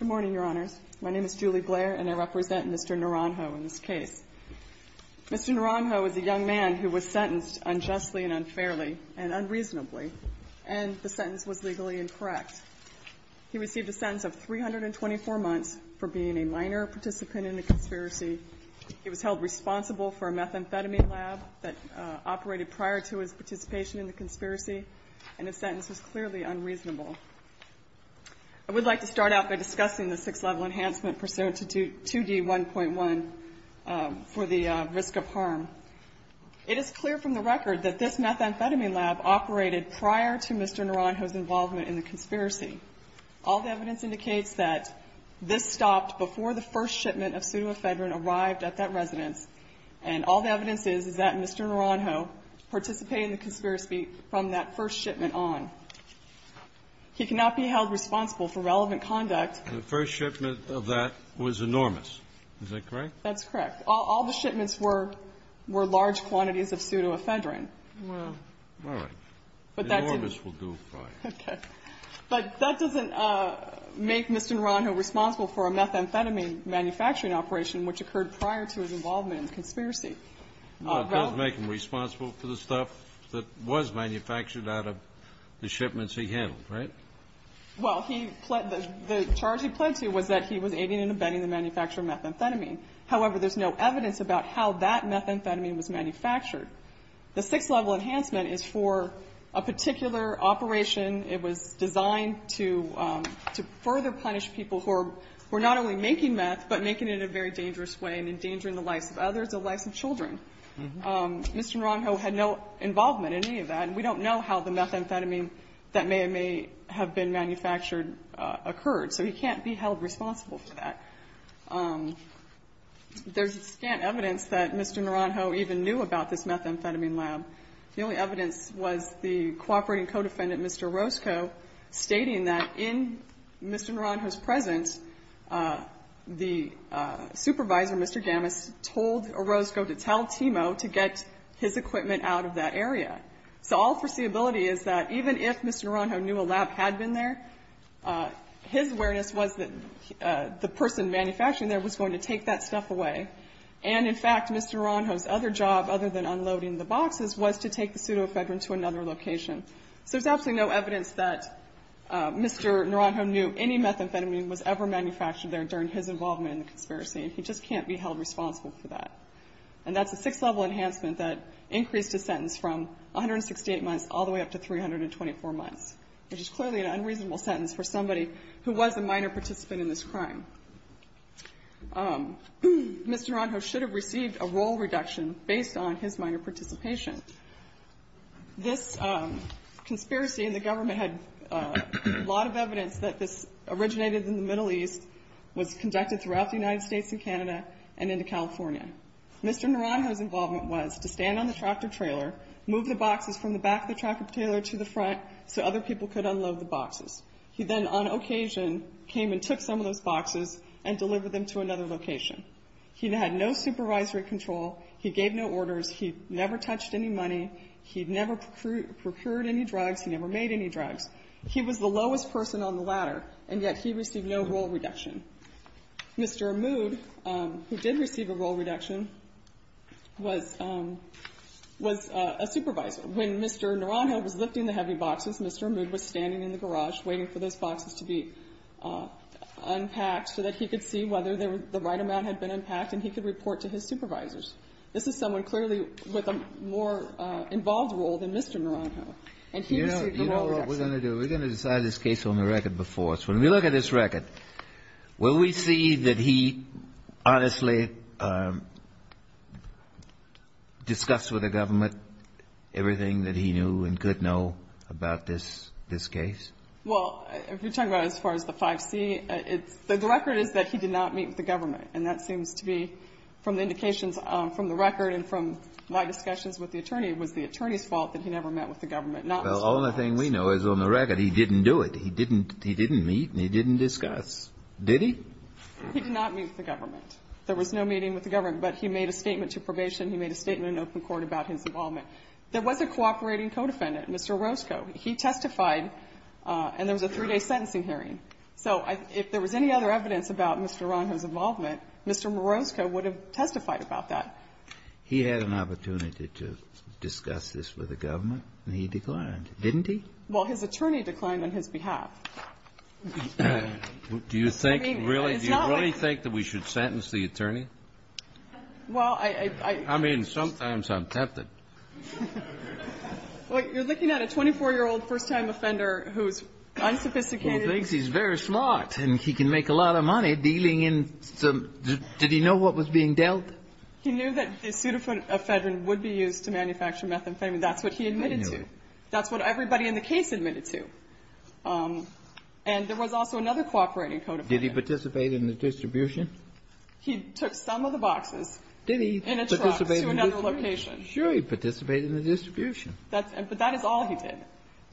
in this case. Mr. Naranjo is a young man who was sentenced unjustly and unfairly and unreasonably, and the sentence was legally incorrect. He received a sentence of 324 months for being a minor participant in the conspiracy. He was held responsible for a methamphetamine lab that operated prior to his participation in the conspiracy, and the sentence was clearly unreasonable. I would like to start out by discussing the six-level enhancement pursuant to 2D1.1 for the risk of harm. It is clear from the record that this methamphetamine lab operated prior to Mr. Naranjo's involvement in the conspiracy. All the evidence indicates that this stopped before the first shipment of pseudoephedrine arrived at that residence, and all the evidence is that Mr. Naranjo participated in the conspiracy from that first shipment on. He cannot be held responsible for relevant conduct. The first shipment of that was Enormous. Is that correct? That's correct. All the shipments were large quantities of pseudoephedrine. Well, all right. Enormous will do fine. Okay. But that doesn't make Mr. Naranjo responsible for a methamphetamine manufacturing operation which occurred prior to his involvement in the conspiracy. Well, it does make him responsible for the stuff that was manufactured out of the shipments he handled, right? Well, he pled to the charge he pled to was that he was aiding and abetting the manufacture of methamphetamine. However, there's no evidence about how that methamphetamine was manufactured. The six-level enhancement is for a particular operation. It was designed to further punish people who were not only making meth, but making it in a very dangerous way and endangering the lives of others, the lives of children. Mr. Naranjo had no involvement in any of that, and we don't know how the methamphetamine that may or may have been manufactured occurred. So he can't be held responsible for that. There's scant evidence that Mr. Naranjo even knew about this methamphetamine lab. The only evidence was the cooperating codefendant, Mr. Orozco, stating that in Mr. Naranjo's presence, the supervisor, Mr. Gamis, told Orozco to tell Timo to get his equipment out of that area. So all foreseeability is that even if Mr. Naranjo knew a lab had been there, his awareness was that the person manufacturing there was going to take that stuff away. And in fact, Mr. Naranjo's other job, other than unloading the boxes, was to take the pseudoephedrine to another location. So there's absolutely no evidence that Mr. Naranjo knew any methamphetamine was ever manufactured there during his involvement in the conspiracy, and he just can't be held responsible for that. And that's a six-level enhancement that increased a sentence from 168 months all the way up to 324 months, which is clearly an unreasonable sentence for somebody who was a minor participant in this crime. Mr. Naranjo should have received a role reduction based on his minor participation. This conspiracy and the government had a lot of evidence that this originated in the Middle East, was conducted throughout the United States and Canada, and into California. Mr. Naranjo's involvement was to stand on the tractor-trailer, move the boxes from the back of the tractor-trailer to the front so other people could unload the boxes. He then, on occasion, came and took some of those boxes and delivered them to another location. He had no supervisory control. He gave no orders. He never touched any money. He never procured any drugs. He never made any drugs. He was the lowest person on the ladder, and yet he received no role reduction. Mr. Amud, who did receive a role reduction, was a supervisor. When Mr. Naranjo was lifting the heavy boxes, Mr. Amud was standing in the garage waiting for those boxes to be unpacked so that he could see whether the right amount had been unpacked and he could report to his supervisors. This is someone clearly with a more involved role than Mr. Naranjo, and he received a role reduction. What we're going to do, we're going to decide this case on the record before us. When we look at this record, will we see that he honestly discussed with the government everything that he knew and could know about this case? Well, if you're talking about as far as the 5C, it's the record is that he did not meet with the government, and that seems to be from the indications from the record and from my discussions with the attorney, it was the attorney's fault that he never met with the government, not Mr. Naranjo's. Well, the only thing we know is on the record he didn't do it. He didn't meet and he didn't discuss. Did he? He did not meet with the government. There was no meeting with the government, but he made a statement to probation. He made a statement in open court about his involvement. There was a cooperating codefendant, Mr. Marosco. He testified, and there was a three-day sentencing hearing. So if there was any other evidence about Mr. Naranjo's involvement, Mr. Marosco would have testified about that. He had an opportunity to discuss this with the government, and he declined. Didn't he? Well, his attorney declined on his behalf. Do you think, really? Do you really think that we should sentence the attorney? Well, I — I mean, sometimes I'm tempted. Well, you're looking at a 24-year-old first-time offender who's unsophisticated. He thinks he's very smart and he can make a lot of money dealing in some — did he know what was being dealt? He knew that the pseudoephedrine would be used to manufacture methamphetamine. That's what he admitted to. I knew it. That's what everybody in the case admitted to. And there was also another cooperating codefendant. Did he participate in the distribution? He took some of the boxes in a truck to another location. Did he participate in the distribution? Sure, he participated in the distribution. But that is all he did.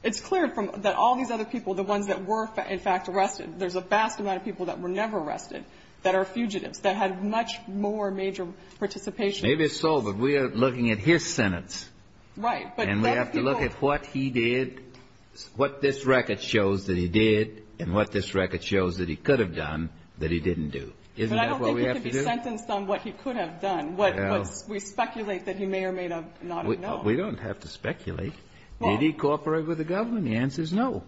It's clear that all these other people, the ones that were, in fact, arrested, there's a vast amount of people that were never arrested that are fugitives, that had much more major participation. Maybe it's so, but we are looking at his sentence. Right. And we have to look at what he did, what this record shows that he did, and what this record shows that he could have done that he didn't do. Isn't that what we have to do? But I don't think he could be sentenced on what he could have done, what we speculate that he may or may not have known. We don't have to speculate. Did he cooperate with the government? The answer is no,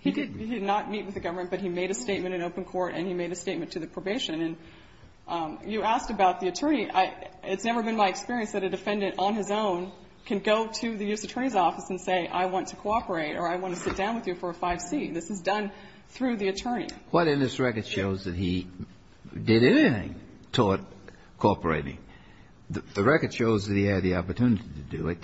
he didn't. He did not meet with the government, but he made a statement in open court and he made a statement to the probation. And you asked about the attorney. It's never been my experience that a defendant on his own can go to the U.S. Attorney's office and say, I want to cooperate or I want to sit down with you for a 5C. This is done through the attorney. What in this record shows that he did anything toward cooperating? The record shows that he had the opportunity to do it.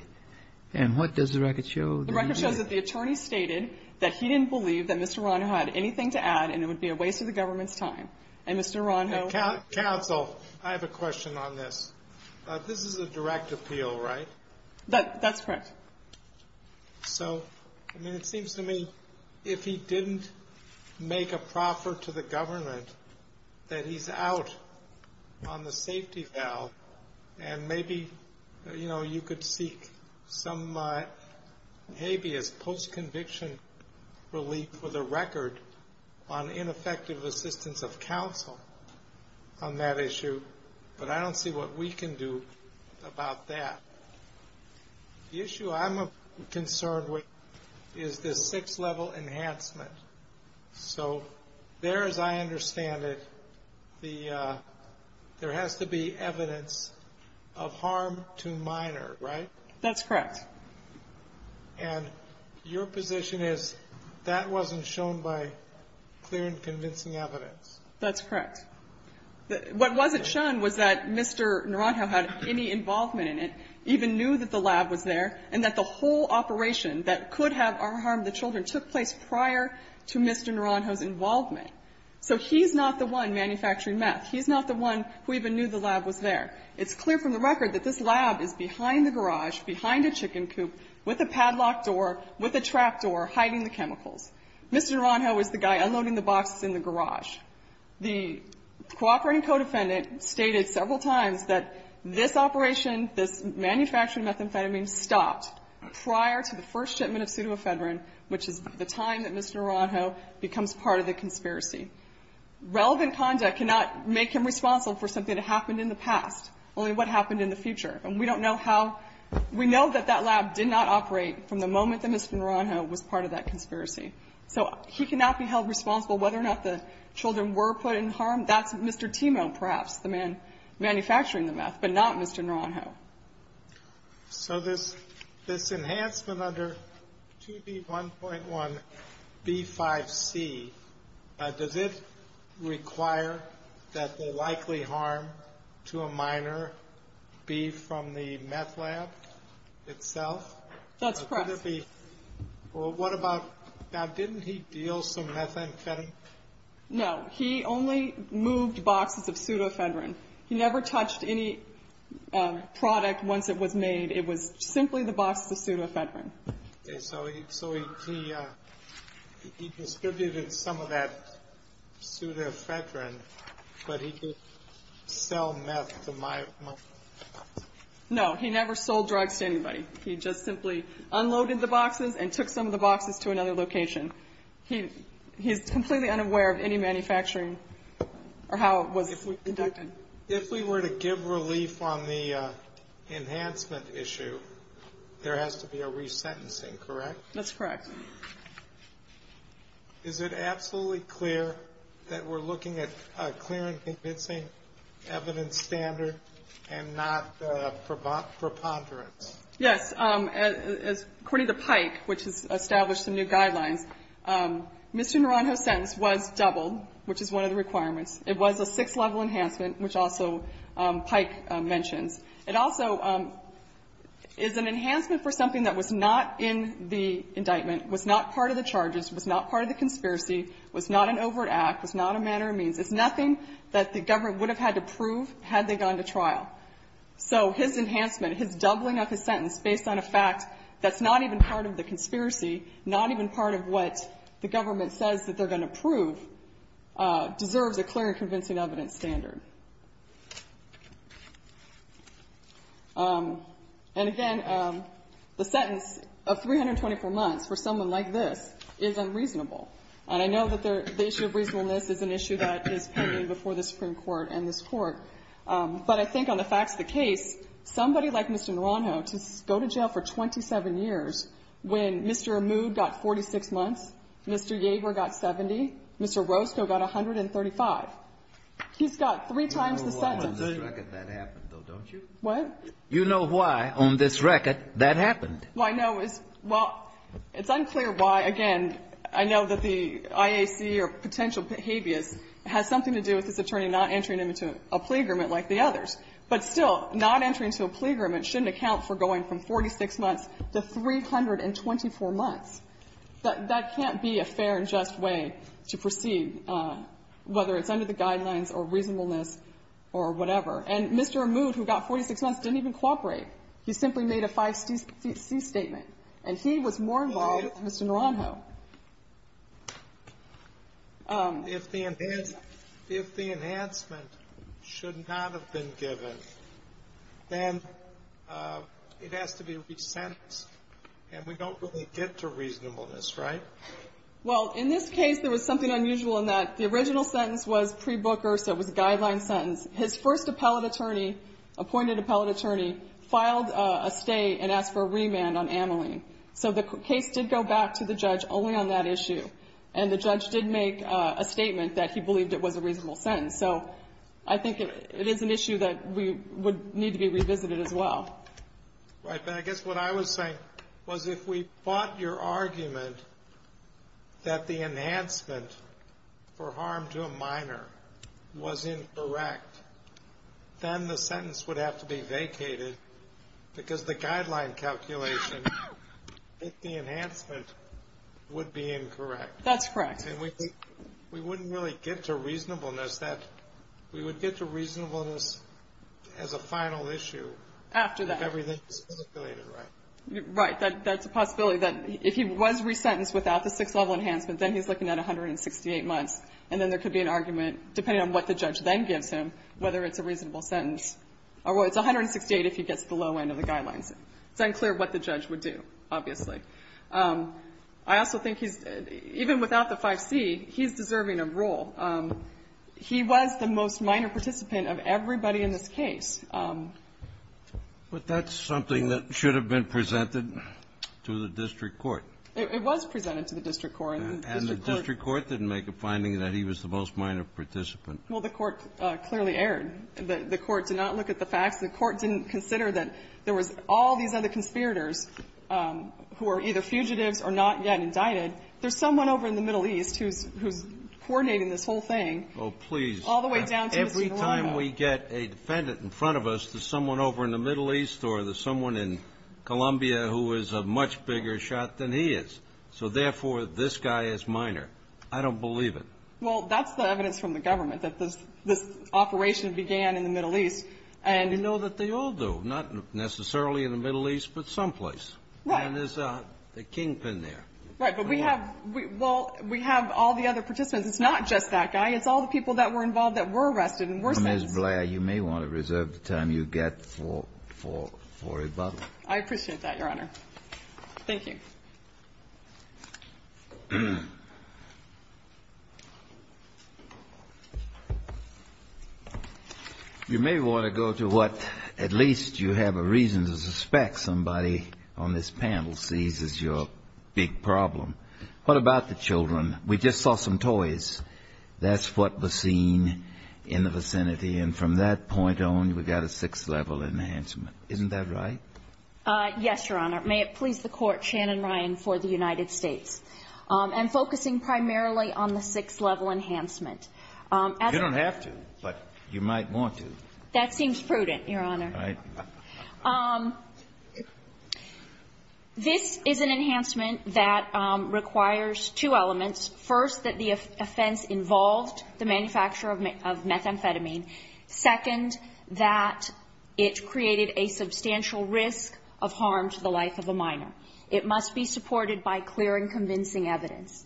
And what does the record show? The record shows that the attorney stated that he didn't believe that Mr. Ronho had anything to add and it would be a waste of the government's time. And Mr. Ronho ---- Counsel, I have a question on this. This is a direct appeal, right? That's correct. So, I mean, it seems to me if he didn't make a proffer to the government, that he's out on the safety valve. And maybe, you know, you could seek some habeas post-conviction relief for the record on ineffective assistance of counsel on that issue. But I don't see what we can do about that. The issue I'm concerned with is this six-level enhancement. So there, as I understand it, the ---- there has to be evidence of harm to minor, right? That's correct. And your position is that wasn't shown by clear and convincing evidence. That's correct. What wasn't shown was that Mr. Ronho had any involvement in it, even knew that the lab was there, and that the whole operation that could have harmed the children took place prior to Mr. Ronho's involvement. So he's not the one manufacturing meth. He's not the one who even knew the lab was there. It's clear from the record that this lab is behind the garage, behind a chicken coop, with a padlock door, with a trap door, hiding the chemicals. Mr. Ronho is the guy unloading the boxes in the garage. The cooperating co-defendant stated several times that this operation, this manufacturing methamphetamine, stopped prior to the first shipment of pseudoephedrine, which is the time that Mr. Ronho becomes part of the conspiracy. Relevant conduct cannot make him responsible for something that happened in the past, only what happened in the future. And we don't know how ---- we know that that lab did not operate from the moment that Mr. Ronho was part of that conspiracy. So he cannot be held responsible whether or not the children were put in harm. That's Mr. Timo, perhaps, the man manufacturing the meth, but not Mr. Ronho. So this enhancement under 2B1.1B5C, does it require that the likely harm to a minor be from the meth lab itself? That's correct. Well, what about ---- now, didn't he deal some methamphetamine? No. He only moved boxes of pseudoephedrine. He never touched any product once it was made. It was simply the boxes of pseudoephedrine. Okay. So he distributed some of that pseudoephedrine, but he didn't sell meth to my ---- No. He never sold drugs to anybody. He just simply unloaded the boxes and took some of the boxes to another location. He is completely unaware of any manufacturing or how it was conducted. If we were to give relief on the enhancement issue, there has to be a resentencing, correct? That's correct. Is it absolutely clear that we're looking at a clear and convincing evidence standard and not preponderance? Yes. According to Pike, which has established some new guidelines, Mr. Ronho's sentence was doubled, which is one of the requirements. It was a six-level enhancement, which also Pike mentions. It also is an enhancement for something that was not in the indictment, was not part of the charges, was not part of the conspiracy, was not an overt act, was not a matter of means. It's nothing that the government would have had to prove had they gone to trial. So his enhancement, his doubling of his sentence based on a fact that's not even part of the conspiracy, not even part of what the government says that they're going to prove, deserves a clear and convincing evidence standard. And again, the sentence of 324 months for someone like this is unreasonable. And I know that the issue of reasonableness is an issue that is pending before the Supreme Court and this Court. But I think on the facts of the case, somebody like Mr. Ronho to go to jail for 27 years when Mr. Amud got 46 months, Mr. Yager got 70, Mr. Roscoe got 135. He's got three times the sentence. Kennedy. You know why on this record that happened, though, don't you? What? You know why on this record that happened. Well, I know. Well, it's unclear why. Again, I know that the IAC or potential habeas has something to do with this attorney not entering into a plea agreement like the others. But still, not entering into a plea agreement shouldn't account for going from 46 months to 324 months. That can't be a fair and just way to proceed, whether it's under the guidelines or reasonableness or whatever. And Mr. Amud, who got 46 months, didn't even cooperate. He simply made a 5C statement. And he was more involved than Mr. Ronho. If the enhancement should not have been given, then it has to be resentenced. And we don't really get to reasonableness, right? Well, in this case, there was something unusual in that the original sentence was pre-Booker, so it was a guideline sentence. His first appellate attorney, appointed appellate attorney, filed a stay and asked for a remand on Ameline. So the case did go back to the judge only on that issue. And the judge did make a statement that he believed it was a reasonable sentence. So I think it is an issue that we would need to be revisited as well. Right. But I guess what I was saying was if we fought your argument that the enhancement for harm to a minor was incorrect, then the sentence would have to be vacated because the guideline calculation that the enhancement would be incorrect. That's correct. And we wouldn't really get to reasonableness. We would get to reasonableness as a final issue. After that. If everything is calculated right. Right. That's a possibility. If he was resentenced without the sixth-level enhancement, then he's looking at 168 months. And then there could be an argument, depending on what the judge then gives him, whether it's a reasonable sentence. Or it's 168 if he gets to the low end of the guidelines. It's unclear what the judge would do, obviously. I also think he's, even without the 5C, he's deserving of rule. He was the most minor participant of everybody in this case. But that's something that should have been presented to the district court. It was presented to the district court. And the district court didn't make a finding that he was the most minor participant. Well, the court clearly erred. The court did not look at the facts. The court didn't consider that there was all these other conspirators who are either fugitives or not yet indicted. There's someone over in the Middle East who's coordinating this whole thing. Oh, please. All the way down to Mr. Narongo. Every time we get a defendant in front of us, there's someone over in the Middle East or there's someone in Columbia who is a much bigger shot than he is. So, therefore, this guy is minor. I don't believe it. Well, that's the evidence from the government, that this operation began in the Middle East. And we know that they all do, not necessarily in the Middle East, but someplace. Right. And there's a kingpin there. Right. But we have all the other participants. It's not just that guy. It's all the people that were involved that were arrested and were sentenced. Ms. Blair, you may want to reserve the time you get for rebuttal. I appreciate that, Your Honor. Thank you. You may want to go to what at least you have a reason to suspect somebody on this panel sees as your big problem. What about the children? We just saw some toys. That's what was seen in the vicinity. And from that point on, we've got a sixth-level enhancement. Isn't that right? Yes, Your Honor. May it please the Court, Shannon Ryan for the United States. And focusing primarily on the sixth-level enhancement. You don't have to, but you might want to. That seems prudent, Your Honor. Right. This is an enhancement that requires two elements. First, that the offense involved the manufacture of methamphetamine. Second, that it created a substantial risk of harm to the life of a minor. It must be supported by clear and convincing evidence.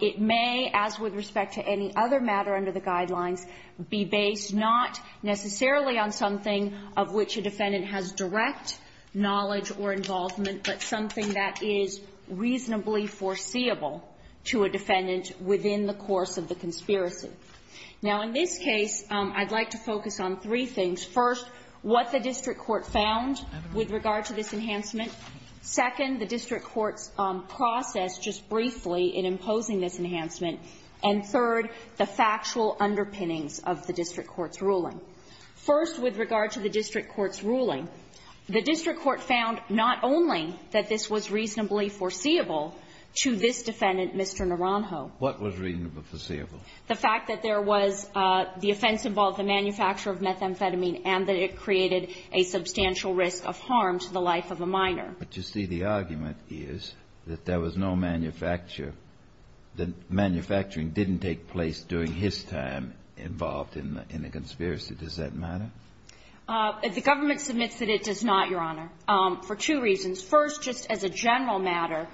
It may, as with respect to any other matter under the guidelines, be based not necessarily on something of which a defendant has direct knowledge or involvement, but something that is reasonably foreseeable to a defendant within the course of the conspiracy. Now, in this case, I'd like to focus on three things. First, what the district court found with regard to this enhancement. Second, the district court's process just briefly in imposing this enhancement. And third, the factual underpinnings of the district court's ruling. First, with regard to the district court's ruling, the district court found not only that this was reasonably foreseeable to this defendant, Mr. Naranjo. What was reasonably foreseeable? The fact that there was the offense involved the manufacture of methamphetamine and that it created a substantial risk of harm to the life of a minor. But you see, the argument is that there was no manufacture. The manufacturing didn't take place during his time involved in the conspiracy. Does that matter? The government submits that it does not, Your Honor, for two reasons. First, just as a general matter,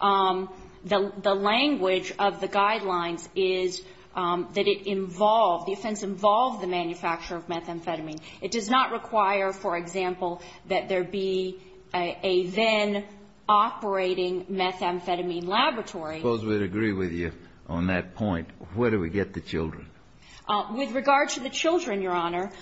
the language of the guidelines is that it involved the offense involved the manufacture of methamphetamine. It does not require, for example, that there be a then-operating methamphetamine laboratory. I suppose we'd agree with you on that point. Where do we get the children? With regard to the children, Your Honor,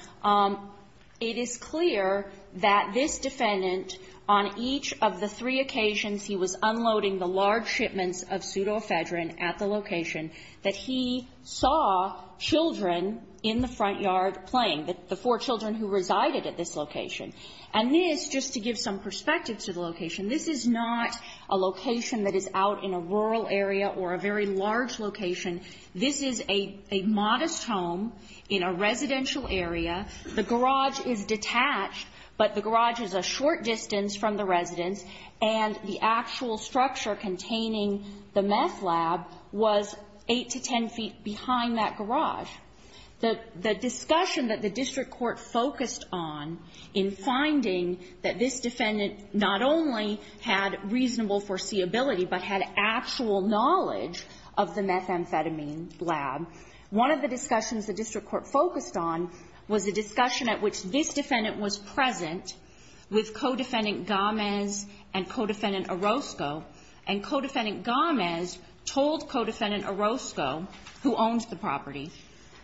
it is clear that this defendant on each of the three occasions he was unloading the large shipments of pseudoephedrine at the location that he saw children in the front yard playing, the four children who resided at this location. And this, just to give some perspective to the location, this is not a location that is out in a rural area or a very large location. This is a modest home in a residential area. The garage is detached, but the garage is a short distance from the residence, and the actual structure containing the meth lab was 8 to 10 feet behind that garage. The discussion that the district court focused on in finding that this defendant not only had reasonable foreseeability but had actual knowledge of the methamphetamine lab, one of the discussions the district court focused on was the discussion at which this defendant was present with Codefendant Gomez and Codefendant Orozco, and Codefendant Gomez told Codefendant Orozco, who owns the property,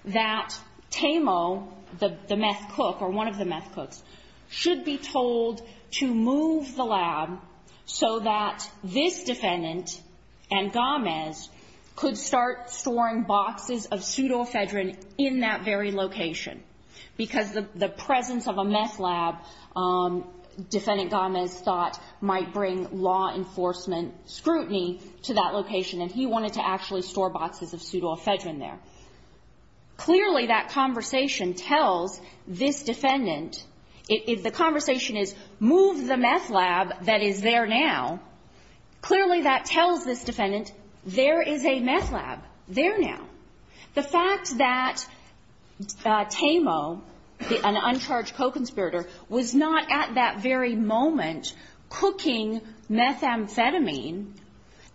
that Tamo, the meth cook or one of the meth cooks, should be told to move the lab so that this defendant and Gomez could start storing boxes of pseudoephedrine in that very location, because the presence of a meth lab, Defendant Gomez thought, might bring law enforcement scrutiny to that location, and he wanted to actually store boxes of pseudoephedrine there. Clearly, that conversation tells this defendant if the conversation is, move the meth lab that is there now, clearly that tells this defendant there is a meth lab there now. The fact that Tamo, an uncharged co-conspirator, was not at that very moment cooking methamphetamine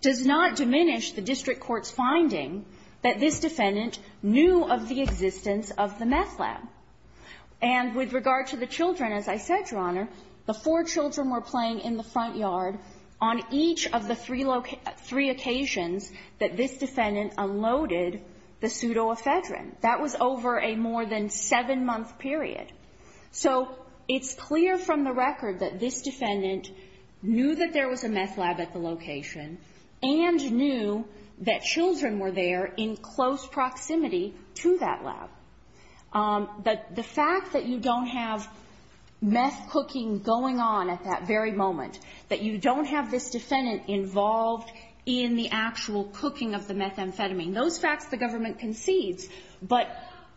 does not diminish the district court's finding that this defendant knew of the existence of the meth lab. And with regard to the children, as I said, Your Honor, the four children were playing in the front yard on each of the three occasions that this defendant unloaded the pseudoephedrine. That was over a more than seven-month period. So it's clear from the record that this defendant knew that there was a meth lab at the location and knew that children were there in close proximity to that lab. The fact that you don't have meth cooking going on at that very moment, that you don't have this defendant involved in the actual cooking of the methamphetamine, those facts the government concedes, but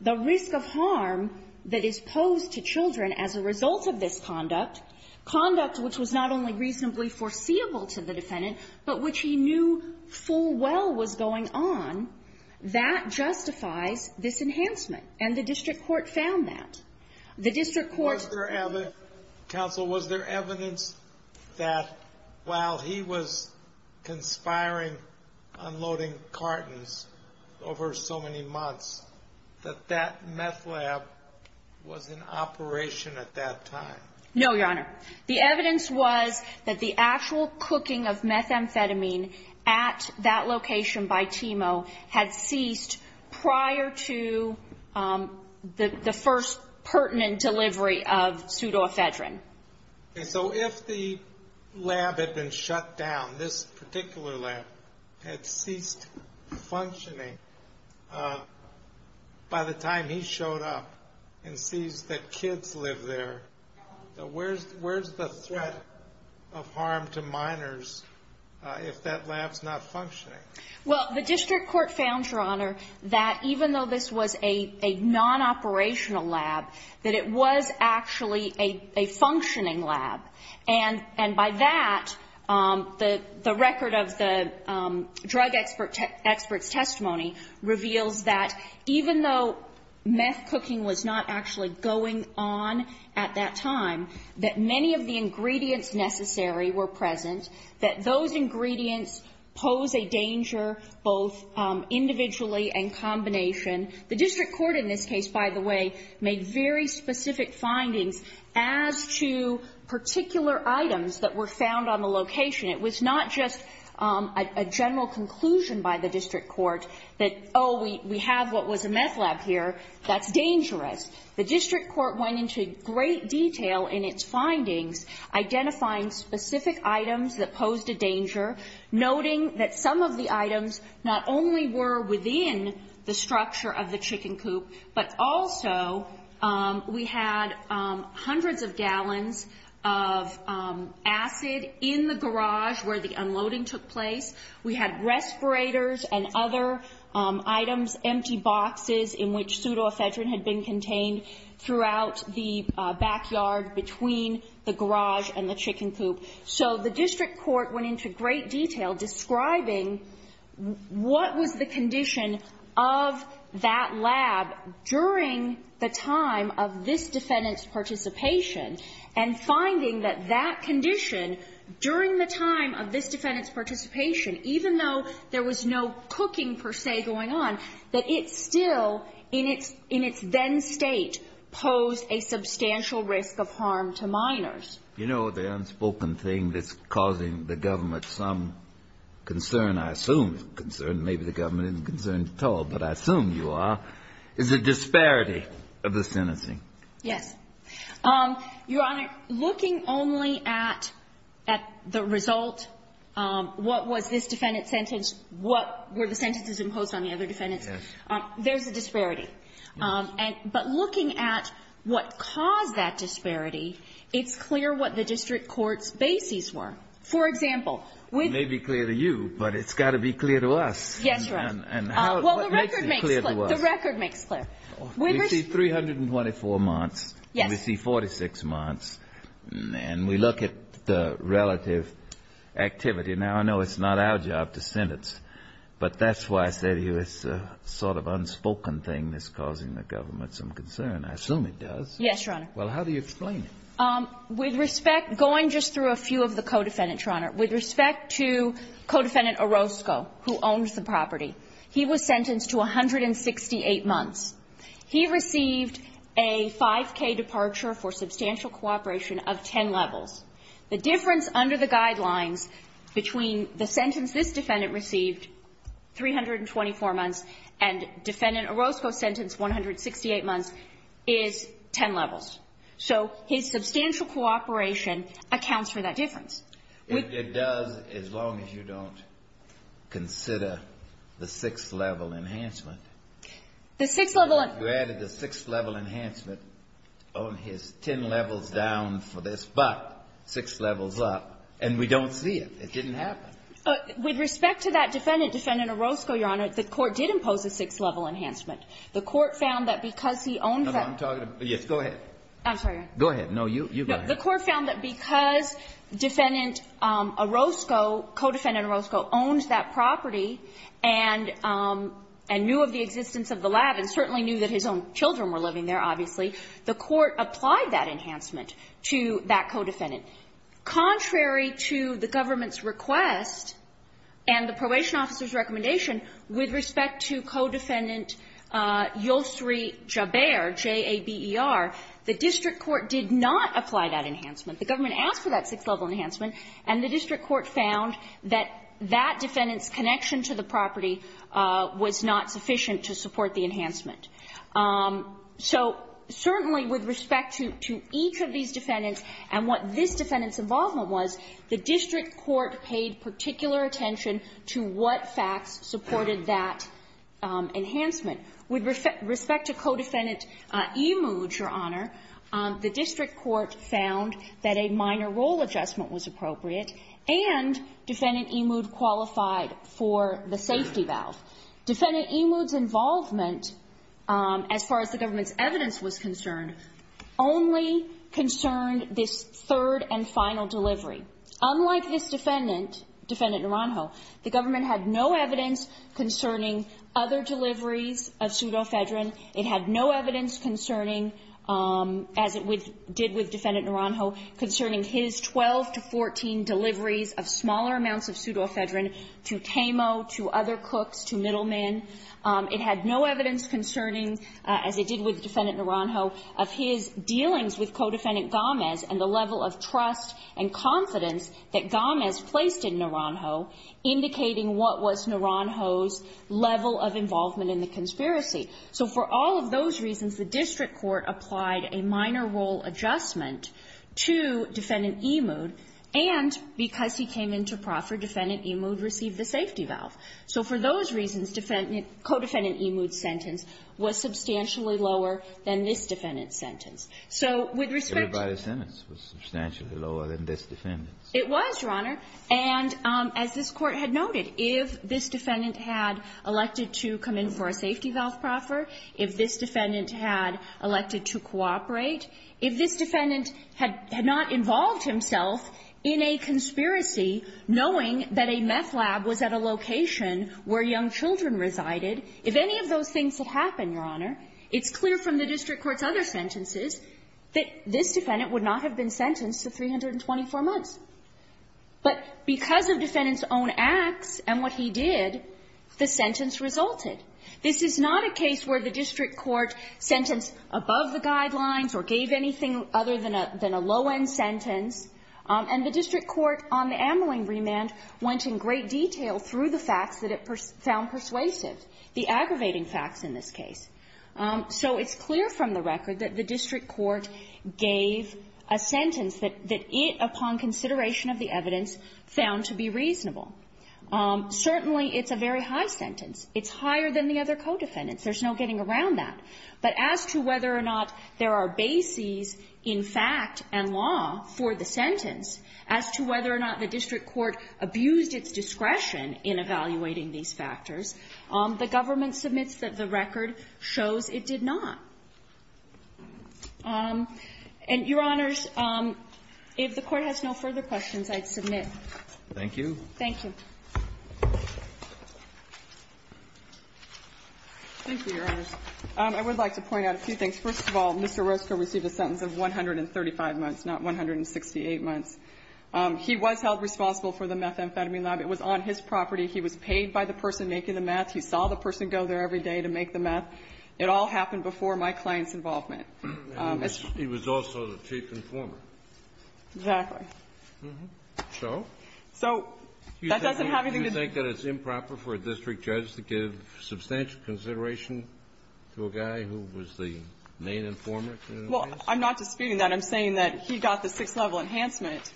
the risk of harm that is posed to children as a result of this conduct, conduct which was not only reasonably foreseeable to the defendant, but which he knew full well was going on, that justifies this enhancement, and the district court found that. The district court's ---- Sotomayor, was there evidence that while he was conspiring unloading cartons over so many months, that that meth lab was in operation at that time? No, Your Honor. The evidence was that the actual cooking of methamphetamine at that location by Timo had ceased prior to the first pertinent delivery of pseudoephedrine. So if the lab had been shut down, this particular lab, had ceased functioning by the time he showed up and sees that kids live there, where's the threat of harm to minors if that lab's not functioning? Well, the district court found, Your Honor, that even though this was a non-operational lab, that it was actually a functioning lab. And by that, the record of the drug expert's testimony reveals that even though meth cooking was not actually going on at that time, that many of the ingredients necessary were present, that those ingredients pose a danger both individually and combination. The district court in this case, by the way, made very specific findings as to particular items that were found on the location. It was not just a general conclusion by the district court that, oh, we have what was a meth lab here, that's dangerous. The district court went into great detail in its findings identifying specific items that posed a danger, noting that some of the items not only were within the structure of the chicken coop, but also we had hundreds of gallons of acid in the garage where the unloading took place. We had respirators and other items, empty boxes in which pseudoephedrine had been contained throughout the backyard between the garage and the chicken coop. So the district court went into great detail describing what was the condition of that lab during the time of this defendant's participation, and finding that that condition during the time of this defendant's participation, even though there was no cooking, per se, going on, that it still, in its then state, posed a substantial risk of harm to minors. You know, the unspoken thing that's causing the government some concern, I assume it's a concern, maybe the government isn't concerned at all, but I assume you are, is the disparity of the sentencing. Yes. Your Honor, looking only at the result, what was this defendant's sentence, what were the sentences imposed on the other defendants, there's a disparity. But looking at what caused that disparity, it's clear what the district court's bases were. For example... It may be clear to you, but it's got to be clear to us. Yes, Your Honor. And what makes it clear to us? Well, the record makes clear. We see 324 months. Yes. And we see 46 months. And we look at the relative activity. Now, I know it's not our job to sentence, but that's why I say to you it's a sort of unspoken thing that's causing the government some concern. I assume it does. Yes, Your Honor. Well, how do you explain it? With respect, going just through a few of the co-defendants, Your Honor, with respect to co-defendant Orozco, who owns the property, he was sentenced to 168 months. He received a 5K departure for substantial cooperation of 10 levels. The difference under the guidelines between the sentence this defendant received, 324 months, and defendant Orozco's sentence, 168 months, is 10 levels. So his substantial cooperation accounts for that difference. It does as long as you don't consider the sixth-level enhancement. The sixth-level... You added the sixth-level enhancement on his 10 levels down for this, but six levels up. And we don't see it. It didn't happen. With respect to that defendant, defendant Orozco, Your Honor, the Court did impose a sixth-level enhancement. The Court found that because he owns that... No, I'm talking about... Yes, go ahead. I'm sorry, Your Honor. Go ahead. No, you go ahead. No. The Court found that because defendant Orozco, co-defendant Orozco, owns that his own children were living there, obviously, the Court applied that enhancement to that co-defendant. Contrary to the government's request and the probation officer's recommendation, with respect to co-defendant Yosri Jaber, J-A-B-E-R, the district court did not apply that enhancement. The government asked for that sixth-level enhancement, and the district court found that that defendant's connection to the property was not sufficient to support the enhancement. So certainly with respect to each of these defendants and what this defendant's involvement was, the district court paid particular attention to what facts supported that enhancement. With respect to co-defendant Emoud, Your Honor, the district court found that a minor role adjustment was appropriate, and defendant Emoud qualified for the safety valve. Defendant Emoud's involvement, as far as the government's evidence was concerned, only concerned this third and final delivery. Unlike his defendant, defendant Naranjo, the government had no evidence concerning other deliveries of pseudofedrin. It had no evidence concerning, as it did with defendant Naranjo, concerning his 12 to 14 deliveries of smaller amounts of pseudofedrin to Teimo, to other cooks, to middlemen. It had no evidence concerning, as it did with defendant Naranjo, of his dealings with co-defendant Gomez and the level of trust and confidence that Gomez placed in Naranjo indicating what was Naranjo's level of involvement in the conspiracy. So for all of those reasons, the district court applied a minor role adjustment to defendant Emoud, and because he came into proffer, defendant Emoud received the safety valve. So for those reasons, defendant – co-defendant Emoud's sentence was substantially lower than this defendant's sentence. So with respect to the – Everybody's sentence was substantially lower than this defendant's. It was, Your Honor. And as this Court had noted, if this defendant had elected to come in for a safety valve proffer, if this defendant had elected to cooperate, if this defendant had not involved himself in a conspiracy knowing that a meth lab was at a location where young children resided, if any of those things had happened, Your Honor, it's clear from the district court's other sentences that this defendant would not have been sentenced to 324 months. But because of defendant's own acts and what he did, the sentence resulted. This is not a case where the district court sentenced above the guidelines or gave anything other than a low-end sentence. And the district court on the ambling remand went in great detail through the facts that it found persuasive, the aggravating facts in this case. So it's clear from the record that the district court gave a sentence that it, upon consideration of the evidence, found to be reasonable. Certainly, it's a very high sentence. It's higher than the other co-defendants. There's no getting around that. But as to whether or not there are bases in fact and law for the sentence, as to whether or not the district court abused its discretion in evaluating these factors, the government submits that the record shows it did not. And, Your Honors, if the Court has no further questions, I'd submit. Thank you. Thank you. Thank you, Your Honors. I would like to point out a few things. First of all, Mr. Roscoe received a sentence of 135 months, not 168 months. He was held responsible for the methamphetamine lab. It was on his property. He was paid by the person making the meth. He saw the person go there every day to make the meth. It all happened before my client's involvement. He was also the chief informer. Exactly. So? So that doesn't have anything to do with it. Do you think that it's improper for a district judge to give substantial consideration to a guy who was the main informer? Well, I'm not disputing that. I'm saying that he got the six-level enhancement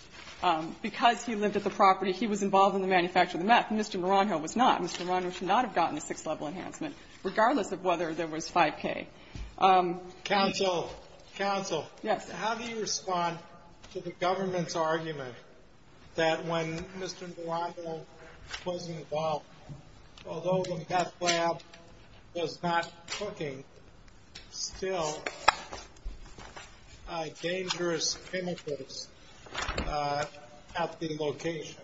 because he lived at the property. He was involved in the manufacture of the meth. Mr. Maranjo was not. Mr. Maranjo should not have gotten a six-level enhancement, regardless of whether there was 5K. Counsel. Counsel. Yes. How do you respond to the government's argument that when Mr. Maranjo was involved, although the meth lab was not cooking, still dangerous chemicals at the location?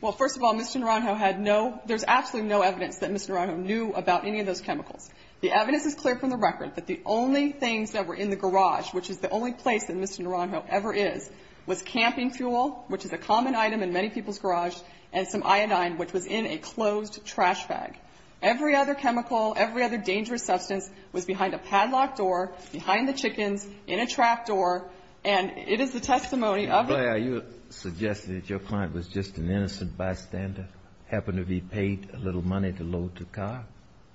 Well, first of all, Mr. Maranjo had no, there's absolutely no evidence that Mr. Maranjo knew about any of those chemicals. The evidence is clear from the record that the only things that were in the garage, which is the only place that Mr. Maranjo ever is, was camping fuel, which is a common item in many people's trash bag. Every other chemical, every other dangerous substance was behind a padlock door, behind the chickens, in a trap door, and it is the testimony of the guy. Ms. Blair, are you suggesting that your client was just an innocent bystander, happened to be paid a little money to load the car?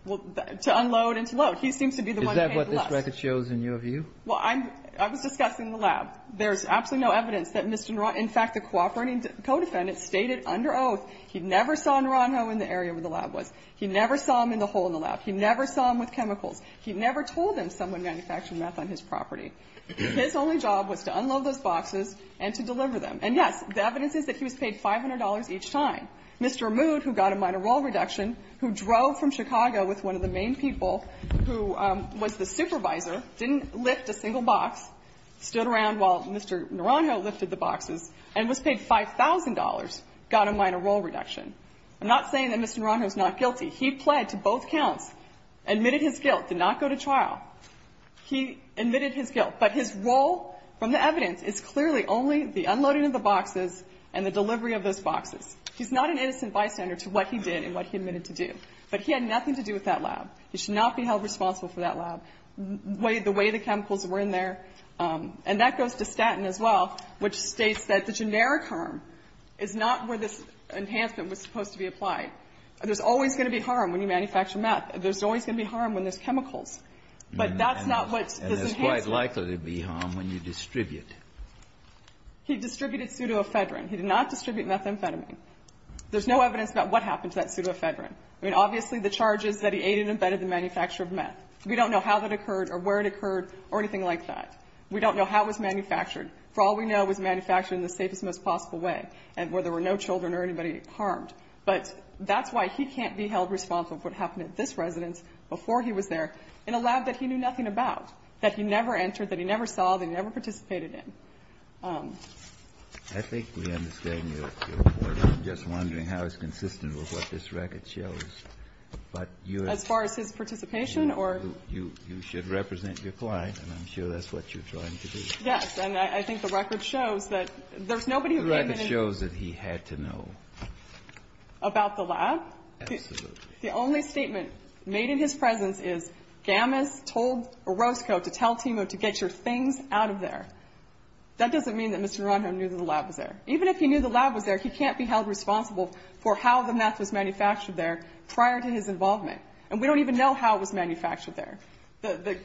Well, to unload and to load. He seems to be the one who paid less. Is that what this record shows in your view? Well, I'm, I was discussing the lab. There's absolutely no evidence that Mr. Maranjo, in fact, the cooperating co-defendant, stated under oath he never saw Maranjo in the area where the lab was. He never saw him in the hole in the lab. He never saw him with chemicals. He never told him someone manufactured meth on his property. His only job was to unload those boxes and to deliver them. And, yes, the evidence is that he was paid $500 each time. Mr. Mood, who got a minor role reduction, who drove from Chicago with one of the main people, who was the supervisor, didn't lift a single box, stood around while Mr. Maranjo lifted the boxes and was paid $5,000, got a minor role reduction. I'm not saying that Mr. Maranjo is not guilty. He pled to both counts, admitted his guilt, did not go to trial. He admitted his guilt. But his role from the evidence is clearly only the unloading of the boxes and the delivery of those boxes. He's not an innocent bystander to what he did and what he admitted to do. But he had nothing to do with that lab. He should not be held responsible for that lab, the way the chemicals were in there. And that goes to Staten as well, which states that the generic harm is not where this enhancement was supposed to be applied. There's always going to be harm when you manufacture meth. There's always going to be harm when there's chemicals. But that's not what this enhancement is. Kennedy. And there's quite likely to be harm when you distribute. He distributed pseudoephedrine. He did not distribute methamphetamine. There's no evidence about what happened to that pseudoephedrine. I mean, obviously, the charge is that he ate and embedded the manufacture of meth. We don't know how that occurred or where it occurred or anything like that. We don't know how it was manufactured. For all we know, it was manufactured in the safest, most possible way and where there were no children or anybody harmed. But that's why he can't be held responsible for what happened at this residence before he was there in a lab that he knew nothing about, that he never entered, that he never saw, that he never participated in. Kennedy. I think we understand your point. I'm just wondering how it's consistent with what this record shows. But your ---- As far as his participation or ---- You should represent your client. And I'm sure that's what you're trying to do. Yes. And I think the record shows that there's nobody who came in and ---- The record shows that he had to know. About the lab? Absolutely. The only statement made in his presence is, Gamis told Orozco to tell Timo to get your things out of there. That doesn't mean that Mr. Ronhom knew that the lab was there. Even if he knew the lab was there, he can't be held responsible for how the meth was manufactured there prior to his involvement. And we don't even know how it was manufactured there. The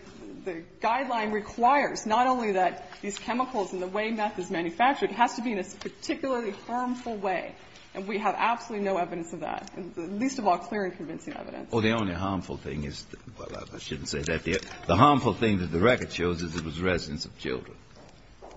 guideline requires not only that these chemicals and the way meth is manufactured, it has to be in a particularly harmful way. And we have absolutely no evidence of that, least of all clear and convincing evidence. Well, the only harmful thing is the ---- well, I shouldn't say that. The harmful thing that the record shows is it was residents of children.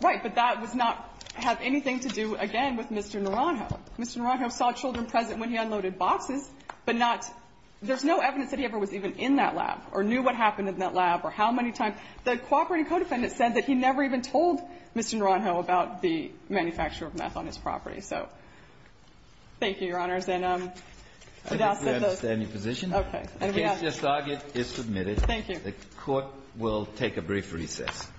Right. But that does not have anything to do, again, with Mr. Ronhom. Mr. Ronhom saw children present when he unloaded boxes, but not ---- there's no evidence that he ever was even in that lab or knew what happened in that lab or how many times. The cooperating co-defendant said that he never even told Mr. Ronhom about the manufacture of meth on his property. So thank you, Your Honors. And I doubt that those ---- I think we understand your position. Okay. The case just argued is submitted. Thank you. The Court will take a brief recess.